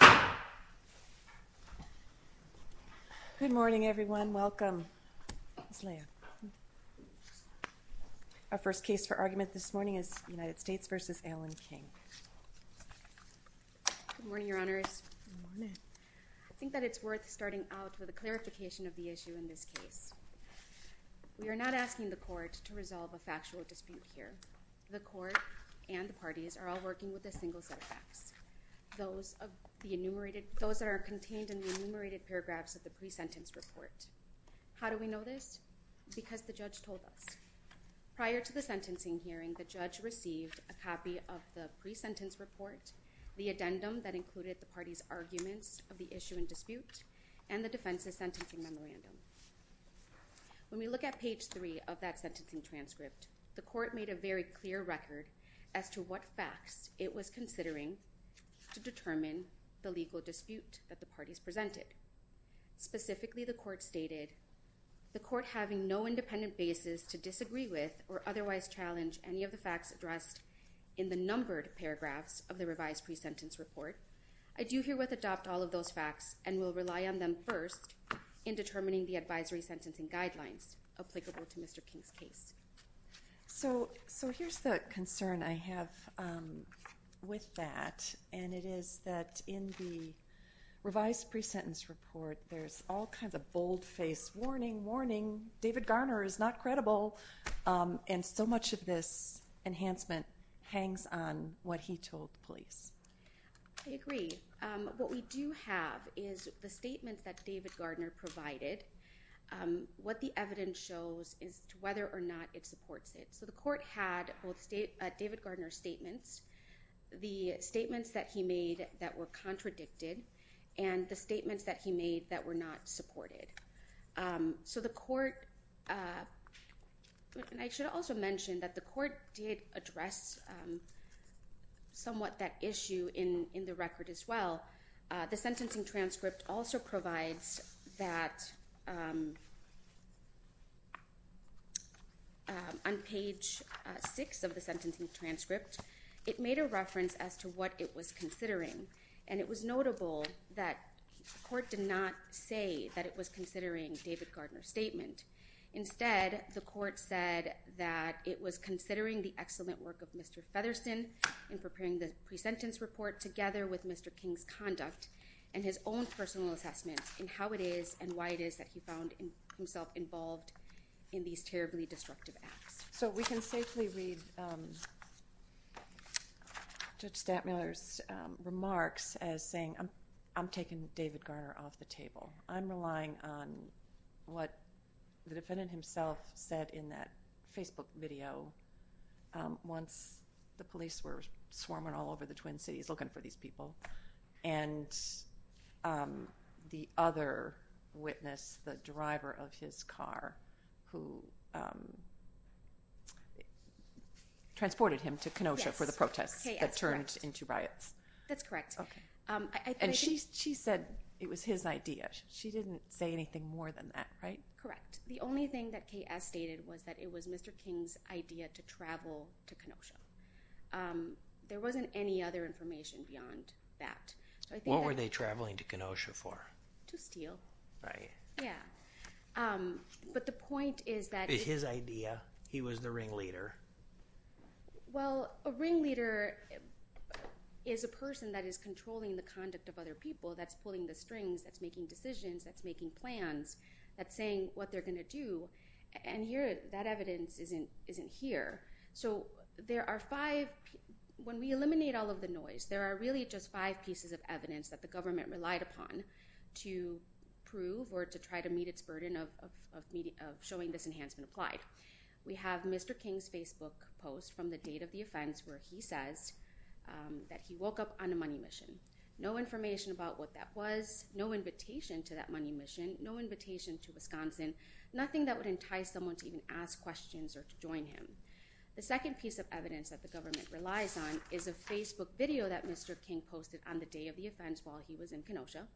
Good morning, Your Honors. I think that it's worth starting out with a clarification of the issue in this case. We are not asking the Court to resolve a factual dispute here. The Court and the parties are all working with a single set of facts, those that are contained in the enumerated paragraphs of the pre-sentence report. How do we know this? Because the judge told us. Prior to the sentencing hearing, the judge received a copy of the pre-sentence report, the addendum that included the parties' arguments of the issue and dispute, and the defense's sentencing memorandum. When we look at page 3 of that sentencing transcript, the Court made a very clear record as to what facts it was considering to determine the legal dispute that the parties presented. Specifically, the Court stated, the Court having no independent basis to disagree with or otherwise challenge any of the facts addressed in the numbered paragraphs of the revised pre-sentence report, I do herewith adopt all of those facts and will rely on them first in determining the advisory sentencing guidelines applicable to Mr. King's case. So here's the concern I have with that, and it is that in the revised pre-sentence report, there's all kinds of bold-faced warning, warning, David Gardner is not credible, and so much of this enhancement hangs on what he told the police. I agree. What we do have is the statements that David Gardner provided. What the evidence shows is whether or not it supports it. So the Court had both David Gardner's statements, the statements that he made that were contradicted, and the statements that he made that were not supported. I should also mention that the Court did address somewhat that issue in the record as well. The sentencing transcript also provides that on page 6 of the sentencing transcript, it made a reference as to what it was considering, and it was notable that the Court did not say that it was considering David Gardner's statement. Instead, the Court said that it was considering the excellent work of Mr. Featherston in preparing the pre-sentence report together with Mr. King's conduct and his own personal assessment in how it is and why it is that he found himself involved in these terribly destructive acts. So we can safely read Judge Stantmiller's remarks as saying, I'm taking David Gardner off the table. I'm relying on what the defendant himself said in that Facebook video once the police were swarming all over the Twin Cities looking for these people, and the other witness, the driver of his car who transported him to Kenosha for the protests that turned into riots. That's correct. And she said it was his idea. She didn't say anything more than that, right? Correct. The only thing that K.S. stated was that it was Mr. King's idea to travel to Kenosha. There wasn't any other information beyond that. What were they traveling to Kenosha for? To steal. Right. Yeah. But the point is that— It's his idea. He was the ringleader. Well, a ringleader is a person that is controlling the conduct of other people. That's pulling the strings. That's making decisions. That's making plans. That's saying what they're going to do. And that evidence isn't here. So there are five—when we eliminate all of the noise, there are really just five pieces of evidence that the government relied upon to prove or to try to meet its burden of showing this enhancement applied. We have Mr. King's Facebook post from the date of the offense where he says that he woke up on a money mission. No information about what that was, no invitation to that money mission, no invitation to Wisconsin, nothing that would entice someone to even ask questions or to join him. The second piece of evidence that the government relies on is a Facebook video that Mr. King posted on the day of the offense while he was in Kenosha.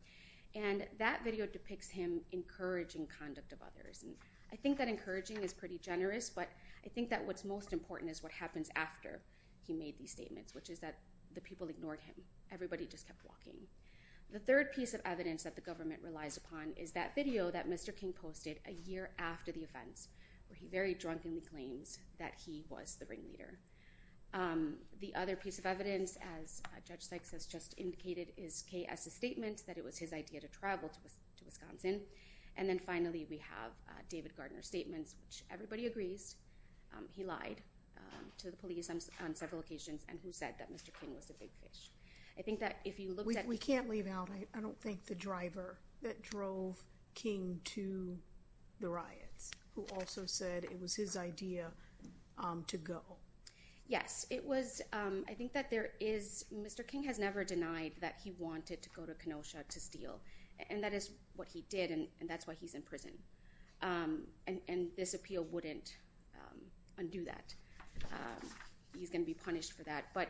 And that video depicts him encouraging conduct of others. And I think that encouraging is pretty generous, but I think that what's most important is what happens after he made these statements, which is that the people ignored him. Everybody just kept walking. The third piece of evidence that the government relies upon is that video that Mr. King posted a year after the offense where he very drunkenly claims that he was the ringleader. The other piece of evidence, as Judge Sykes has just indicated, is K.S.'s statement that it was his idea to travel to Wisconsin. And then finally, we have David Gardner's statements, which everybody agrees he lied to the police on several occasions and who said that Mr. King was a big fish. We can't leave out, I don't think, the driver that drove King to the riots who also said it was his idea to go. Yes, I think that there is – Mr. King has never denied that he wanted to go to Kenosha to steal. And that is what he did, and that's why he's in prison. And this appeal wouldn't undo that. He's going to be punished for that. But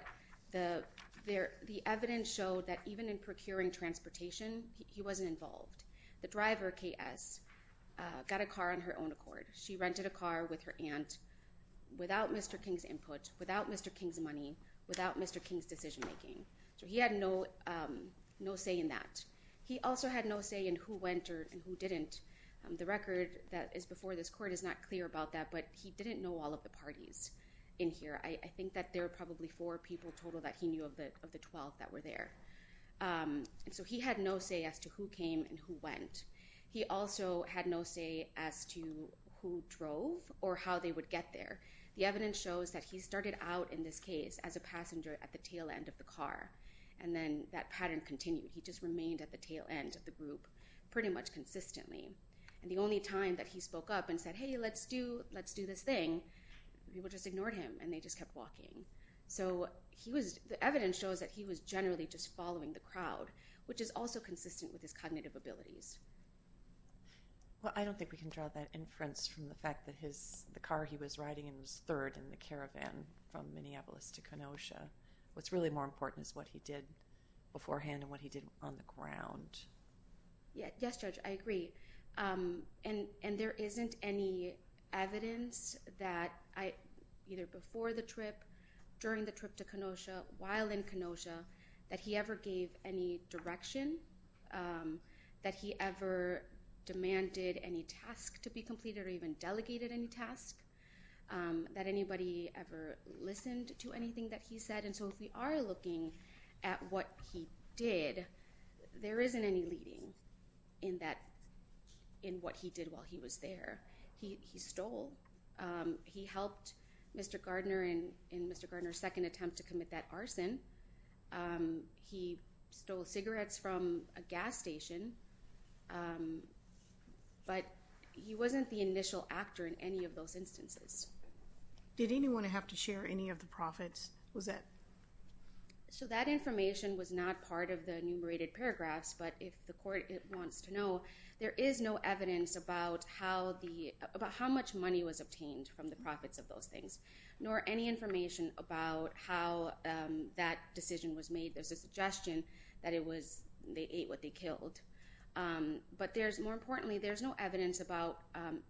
the evidence showed that even in procuring transportation, he wasn't involved. The driver, K.S., got a car on her own accord. She rented a car with her aunt without Mr. King's input, without Mr. King's money, without Mr. King's decision-making. So he had no say in that. He also had no say in who went and who didn't. The record that is before this court is not clear about that, but he didn't know all of the parties in here. I think that there were probably four people total that he knew of the 12 that were there. So he had no say as to who came and who went. He also had no say as to who drove or how they would get there. The evidence shows that he started out in this case as a passenger at the tail end of the car. And then that pattern continued. He just remained at the tail end of the group pretty much consistently. And the only time that he spoke up and said, hey, let's do this thing, people just ignored him and they just kept walking. So the evidence shows that he was generally just following the crowd, which is also consistent with his cognitive abilities. Well, I don't think we can draw that inference from the fact that the car he was riding in was third in the caravan from Minneapolis to Kenosha. What's really more important is what he did beforehand and what he did on the ground. Yes, Judge, I agree. And there isn't any evidence that either before the trip, during the trip to Kenosha, while in Kenosha, that he ever gave any direction, that he ever demanded any task to be completed or even delegated any task, that anybody ever listened to anything that he said. And so if we are looking at what he did, there isn't any leading in what he did while he was there. He stole. He helped Mr. Gardner in Mr. Gardner's second attempt to commit that arson. He stole cigarettes from a gas station. But he wasn't the initial actor in any of those instances. Did anyone have to share any of the profits? Was that? So that information was not part of the enumerated paragraphs. But if the court wants to know, there is no evidence about how the about how much money was obtained from the profits of those things, nor any information about how that decision was made. There's a suggestion that it was they ate what they killed. But there's more importantly, there's no evidence about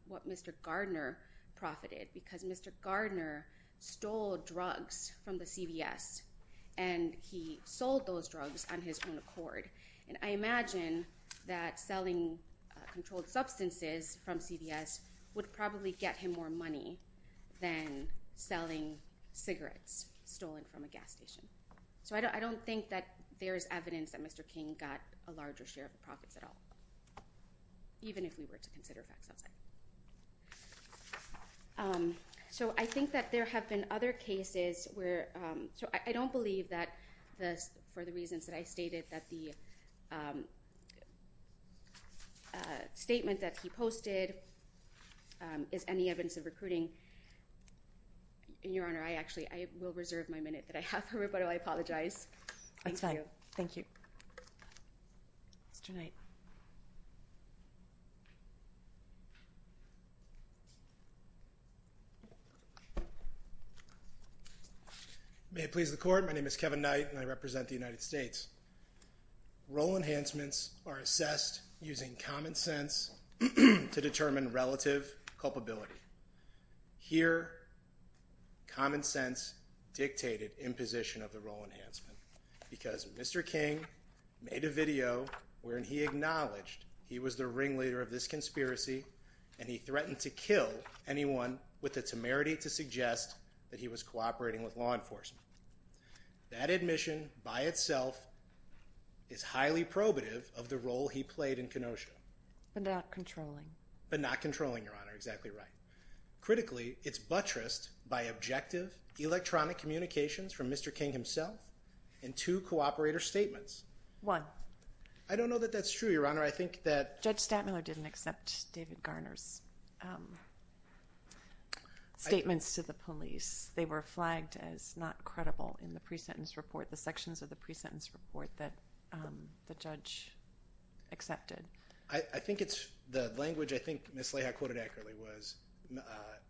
what Mr. Gardner profited because Mr. Gardner stole drugs from the CBS and he sold those drugs on his own accord. And I imagine that selling controlled substances from CBS would probably get him more money than selling cigarettes stolen from a gas station. So I don't think that there is evidence that Mr. King got a larger share of the profits at all. Even if we were to consider facts outside. So I think that there have been other cases where. So I don't believe that this for the reasons that I stated that the. Statement that he posted is any evidence of recruiting. Your Honor, I actually I will reserve my minute that I have heard, but I apologize. Thank you. Thank you. Mr. Knight. May it please the court. My name is Kevin Knight and I represent the United States. Role enhancements are assessed using common sense to determine relative culpability here. Common sense dictated imposition of the role enhancement because Mr. King made a video where he acknowledged he was the ringleader of this conspiracy. And he threatened to kill anyone with the temerity to suggest that he was cooperating with law enforcement. That admission by itself is highly probative of the role he played in Kenosha. But not controlling but not controlling your honor. Exactly right. Critically, it's buttressed by objective electronic communications from Mr. King himself and two cooperator statements. One, I don't know that that's true, Your Honor. I think that Judge Stantmiller didn't accept David Garner's statements to the police. They were flagged as not credible in the pre-sentence report, the sections of the pre-sentence report that the judge accepted. I think it's the language. I think Miss Leha quoted accurately was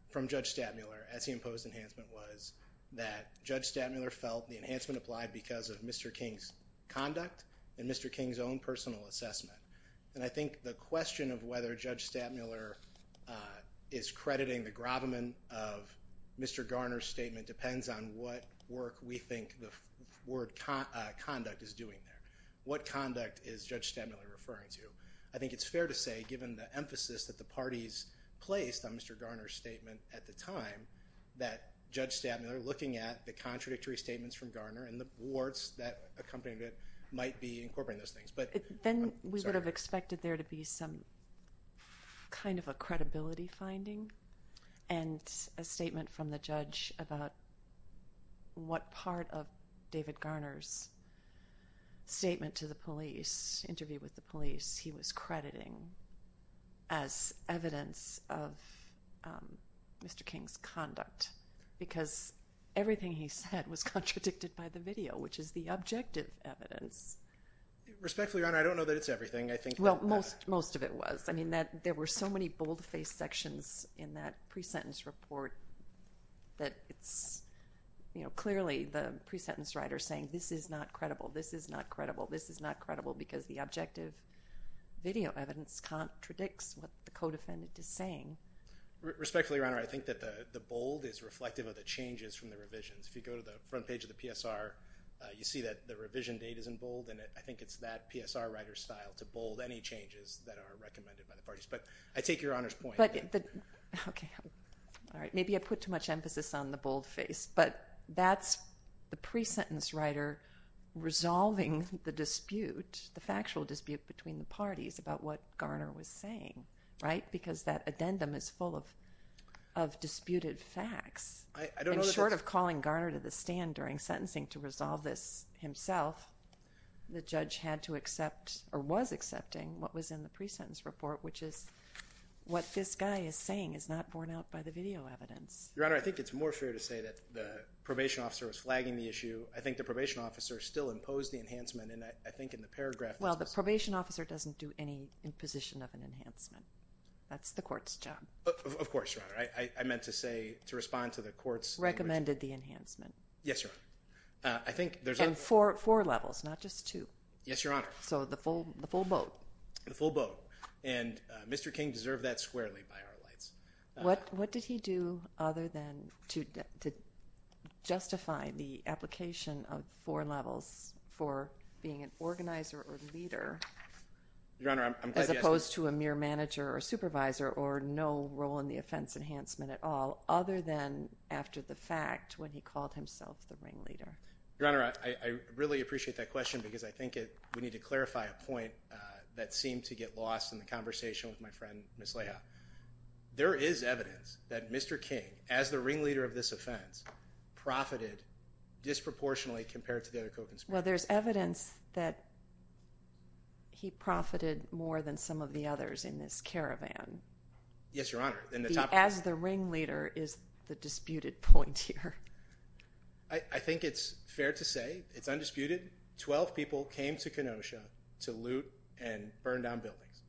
from Judge Stantmiller as he imposed. Enhancement was that Judge Stantmiller felt the enhancement applied because of Mr. King's conduct and Mr. King's own personal assessment. And I think the question of whether Judge Stantmiller is crediting the gravamen of Mr. Garner's statement depends on what work we think the word conduct is doing there. What conduct is Judge Stantmiller referring to? I think it's fair to say given the emphasis that the parties placed on Mr. Garner's statement at the time, that Judge Stantmiller looking at the contradictory statements from Garner and the warts that accompanied it might be incorporating those things. Then we would have expected there to be some kind of a credibility finding and a statement from the judge about what part of David Garner's statement to the police, interview with the police, he was crediting as evidence of Mr. King's conduct. Because everything he said was contradicted by the video, which is the objective evidence. Respectfully, Your Honor, I don't know that it's everything. Well, most of it was. I mean, there were so many bold-faced sections in that pre-sentence report that it's clearly the pre-sentence writer saying this is not credible, this is not credible, this is not credible because the objective video evidence contradicts what the co-defendant is saying. Respectfully, Your Honor, I think that the bold is reflective of the changes from the revisions. If you go to the front page of the PSR, you see that the revision date is in bold, and I think it's that PSR writer's style to bold any changes that are recommended by the parties. But I take Your Honor's point. Okay. All right. Maybe I put too much emphasis on the bold face, but that's the pre-sentence writer resolving the dispute, the factual dispute between the parties about what Garner was saying, right? Because that addendum is full of disputed facts. I'm short of calling Garner to the stand during sentencing to resolve this himself. The judge had to accept or was accepting what was in the pre-sentence report, which is what this guy is saying is not borne out by the video evidence. Your Honor, I think it's more fair to say that the probation officer was flagging the issue. I think the probation officer still imposed the enhancement, and I think in the paragraph that's missing. Well, the probation officer doesn't do any imposition of an enhancement. That's the court's job. Of course, Your Honor. I meant to say, to respond to the court's— Recommended the enhancement. Yes, Your Honor. I think there's— And four levels, not just two. Yes, Your Honor. So the full boat. The full boat. And Mr. King deserved that squarely by our lights. What did he do other than to justify the application of four levels for being an organizer or leader— Your Honor, I'm glad you asked this. —to a mere manager or supervisor or no role in the offense enhancement at all, other than after the fact when he called himself the ringleader? Your Honor, I really appreciate that question because I think we need to clarify a point that seemed to get lost in the conversation with my friend, Ms. Leah. There is evidence that Mr. King, as the ringleader of this offense, profited disproportionately compared to the other co-conspirators. Well, there's evidence that he profited more than some of the others in this caravan. Yes, Your Honor. As the ringleader is the disputed point here. I think it's fair to say it's undisputed. Twelve people came to Kenosha to loot and burn down buildings.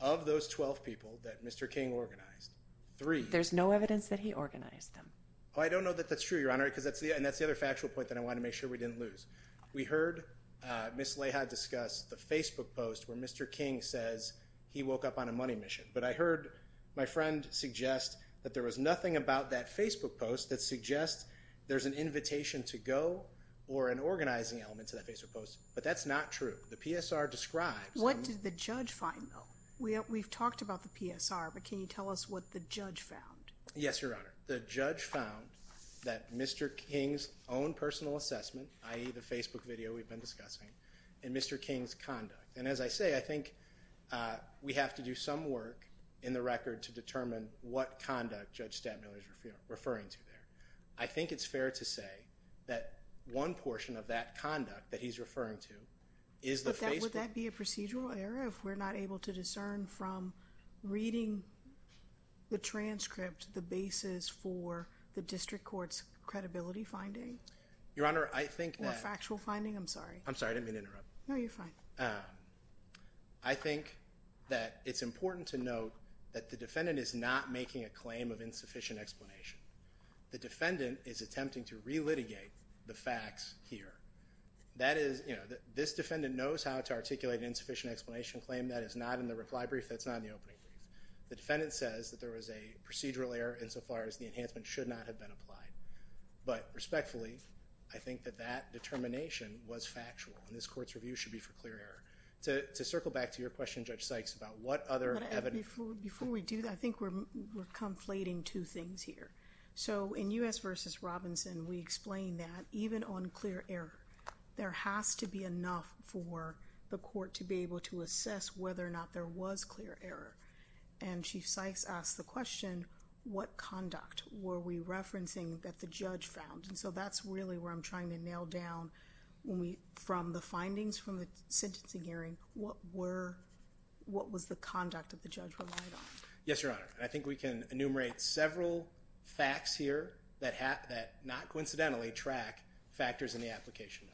Of those twelve people that Mr. King organized, three— There's no evidence that he organized them. Oh, I don't know that that's true, Your Honor, and that's the other factual point that I want to make sure we didn't lose. We heard Ms. Leah discuss the Facebook post where Mr. King says he woke up on a money mission, but I heard my friend suggest that there was nothing about that Facebook post that suggests there's an invitation to go or an organizing element to that Facebook post, but that's not true. The PSR describes— What did the judge find, though? We've talked about the PSR, but can you tell us what the judge found? Yes, Your Honor. The judge found that Mr. King's own personal assessment, i.e., the Facebook video we've been discussing, and Mr. King's conduct. And as I say, I think we have to do some work in the record to determine what conduct Judge Stabler is referring to there. I think it's fair to say that one portion of that conduct that he's referring to is the Facebook— for the district court's credibility finding. Your Honor, I think that— Or factual finding, I'm sorry. I'm sorry, I didn't mean to interrupt. No, you're fine. I think that it's important to note that the defendant is not making a claim of insufficient explanation. The defendant is attempting to re-litigate the facts here. That is, you know, this defendant knows how to articulate an insufficient explanation claim. That is not in the reply brief. That's not in the opening brief. The defendant says that there was a procedural error insofar as the enhancement should not have been applied. But respectfully, I think that that determination was factual, and this court's review should be for clear error. To circle back to your question, Judge Sykes, about what other evidence— Before we do that, I think we're conflating two things here. So, in U.S. v. Robinson, we explain that even on clear error, there has to be enough for the court to be able to assess whether or not there was clear error. And Chief Sykes asked the question, what conduct were we referencing that the judge found? And so that's really where I'm trying to nail down, from the findings from the sentencing hearing, what was the conduct that the judge relied on? Yes, Your Honor. I think we can enumerate several facts here that not coincidentally track factors in the application.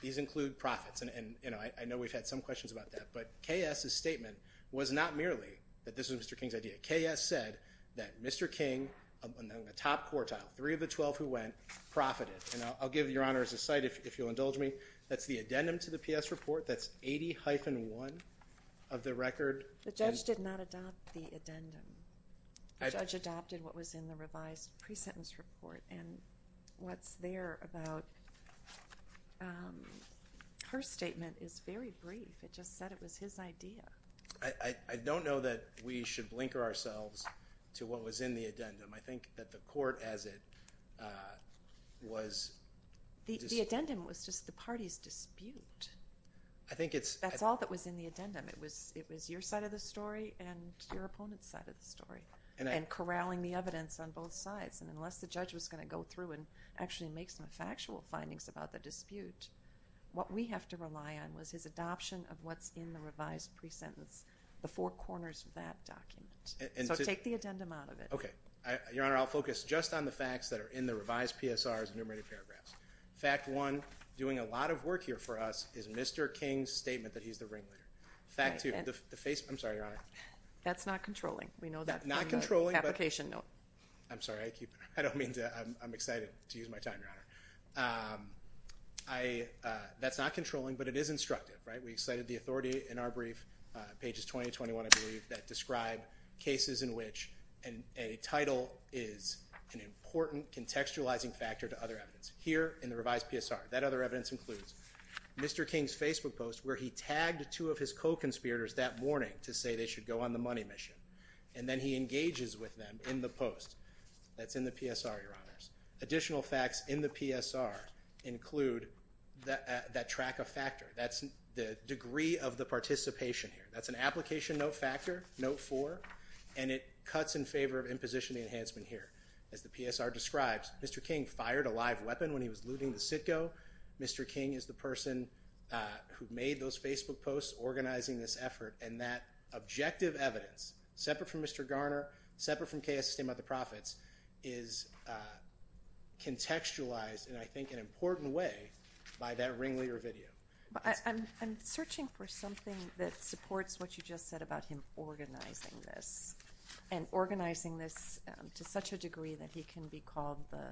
These include profits, and I know we've had some questions about that. But K.S.'s statement was not merely that this was Mr. King's idea. K.S. said that Mr. King, among the top quartile, three of the 12 who went, profited. And I'll give Your Honor, as a side, if you'll indulge me, that's the addendum to the P.S. report. That's 80-1 of the record. The judge did not adopt the addendum. The judge adopted what was in the revised pre-sentence report, and what's there about her statement is very brief. It just said it was his idea. I don't know that we should blinker ourselves to what was in the addendum. I think that the court, as it was – The addendum was just the party's dispute. I think it's – That's all that was in the addendum. It was your side of the story and your opponent's side of the story, and corralling the evidence on both sides. And unless the judge was going to go through and actually make some factual findings about the dispute, what we have to rely on was his adoption of what's in the revised pre-sentence, the four corners of that document. So take the addendum out of it. Okay. Your Honor, I'll focus just on the facts that are in the revised PSR's enumerated paragraphs. Fact one, doing a lot of work here for us, is Mr. King's statement that he's the ringleader. Fact two, the – I'm sorry, Your Honor. That's not controlling. We know that from the application note. I'm sorry. I – that's not controlling, but it is instructive, right? We cited the authority in our brief, pages 20 to 21, I believe, that describe cases in which a title is an important contextualizing factor to other evidence. Here in the revised PSR, that other evidence includes Mr. King's Facebook post where he tagged two of his co-conspirators that morning to say they should go on the money mission. And then he engages with them in the post. That's in the PSR, Your Honors. Additional facts in the PSR include that track of factor. That's the degree of the participation here. That's an application note factor, note four, and it cuts in favor of imposition enhancement here. As the PSR describes, Mr. King fired a live weapon when he was looting the CITGO. Mr. King is the person who made those Facebook posts organizing this effort. And that objective evidence, separate from Mr. Garner, separate from KSSD and by the profits, is contextualized in, I think, an important way by that Ringleader video. I'm searching for something that supports what you just said about him organizing this. And organizing this to such a degree that he can be called the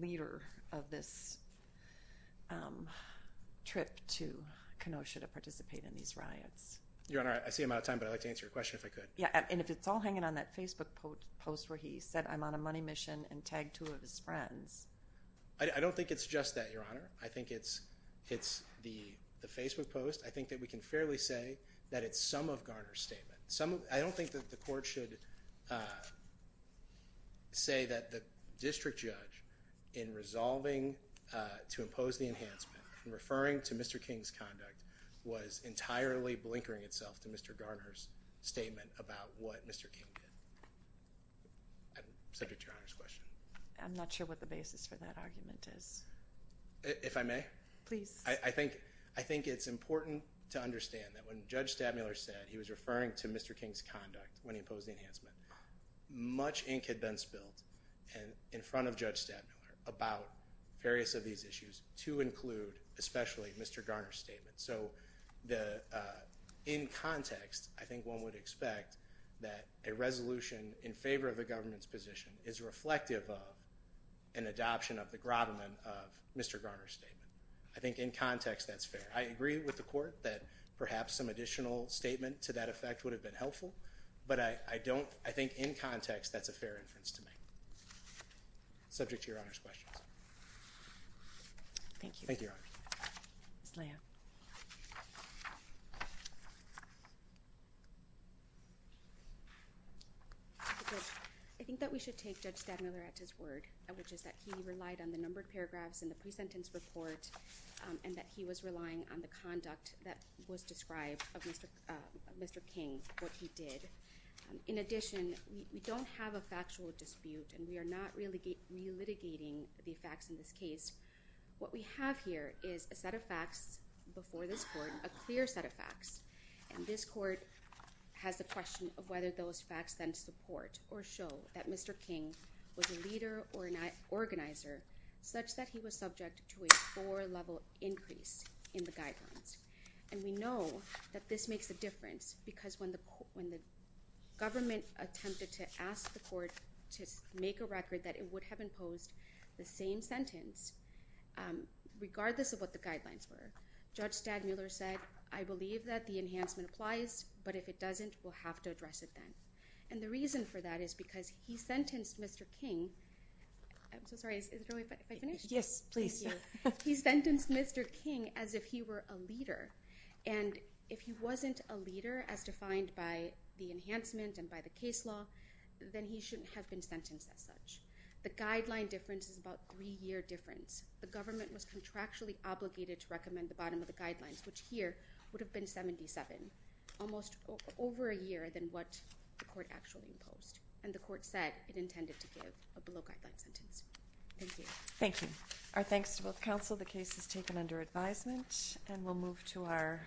leader of this trip to Kenosha to participate in these riots. Your Honor, I see I'm out of time, but I'd like to answer your question if I could. Yeah, and if it's all hanging on that Facebook post where he said, I'm on a money mission and tagged two of his friends. I don't think it's just that, Your Honor. I think it's the Facebook post. I think that we can fairly say that it's some of Garner's statement. I don't think that the court should say that the district judge, in resolving to impose the enhancement, referring to Mr. King's conduct, was entirely blinkering itself to Mr. Garner's statement about what Mr. King did. Subject to Your Honor's question. I'm not sure what the basis for that argument is. If I may? Please. I think it's important to understand that when Judge Stadmiller said he was referring to Mr. King's conduct when he imposed the enhancement, much ink had been spilled in front of Judge Stadmiller about various of these issues to include, especially, Mr. Garner's statement. In context, I think one would expect that a resolution in favor of a government's position is reflective of an adoption of the Grobman of Mr. Garner's statement. I think in context that's fair. I agree with the court that perhaps some additional statement to that effect would have been helpful, but I think in context that's a fair inference to make. Subject to Your Honor's questions. Thank you. Thank you, Your Honor. Ms. Lea. I think that we should take Judge Stadmiller at his word, which is that he relied on the numbered paragraphs in the pre-sentence report and that he was relying on the conduct that was described of Mr. King, what he did. In addition, we don't have a factual dispute and we are not re-litigating the facts in this case. What we have here is a set of facts before this court, a clear set of facts, and this court has the question of whether those facts then support or show that Mr. King was a leader or an organizer such that he was subject to a four-level increase in the guidelines. And we know that this makes a difference because when the government attempted to ask the court to make a record that it would have imposed the same sentence, regardless of what the guidelines were, Judge Stadmiller said, I believe that the enhancement applies, but if it doesn't, we'll have to address it then. And the reason for that is because he sentenced Mr. King – I'm so sorry, is it okay if I finish? Yes, please. He sentenced Mr. King as if he were a leader, and if he wasn't a leader as defined by the enhancement and by the case law, then he shouldn't have been sentenced as such. The guideline difference is about a three-year difference. The government was contractually obligated to recommend the bottom of the guidelines, which here would have been 77, almost over a year than what the court actually imposed. And the court said it intended to give a below-guideline sentence. Thank you. Thank you. Our thanks to both counsel. The case is taken under advisement. And we'll move to our…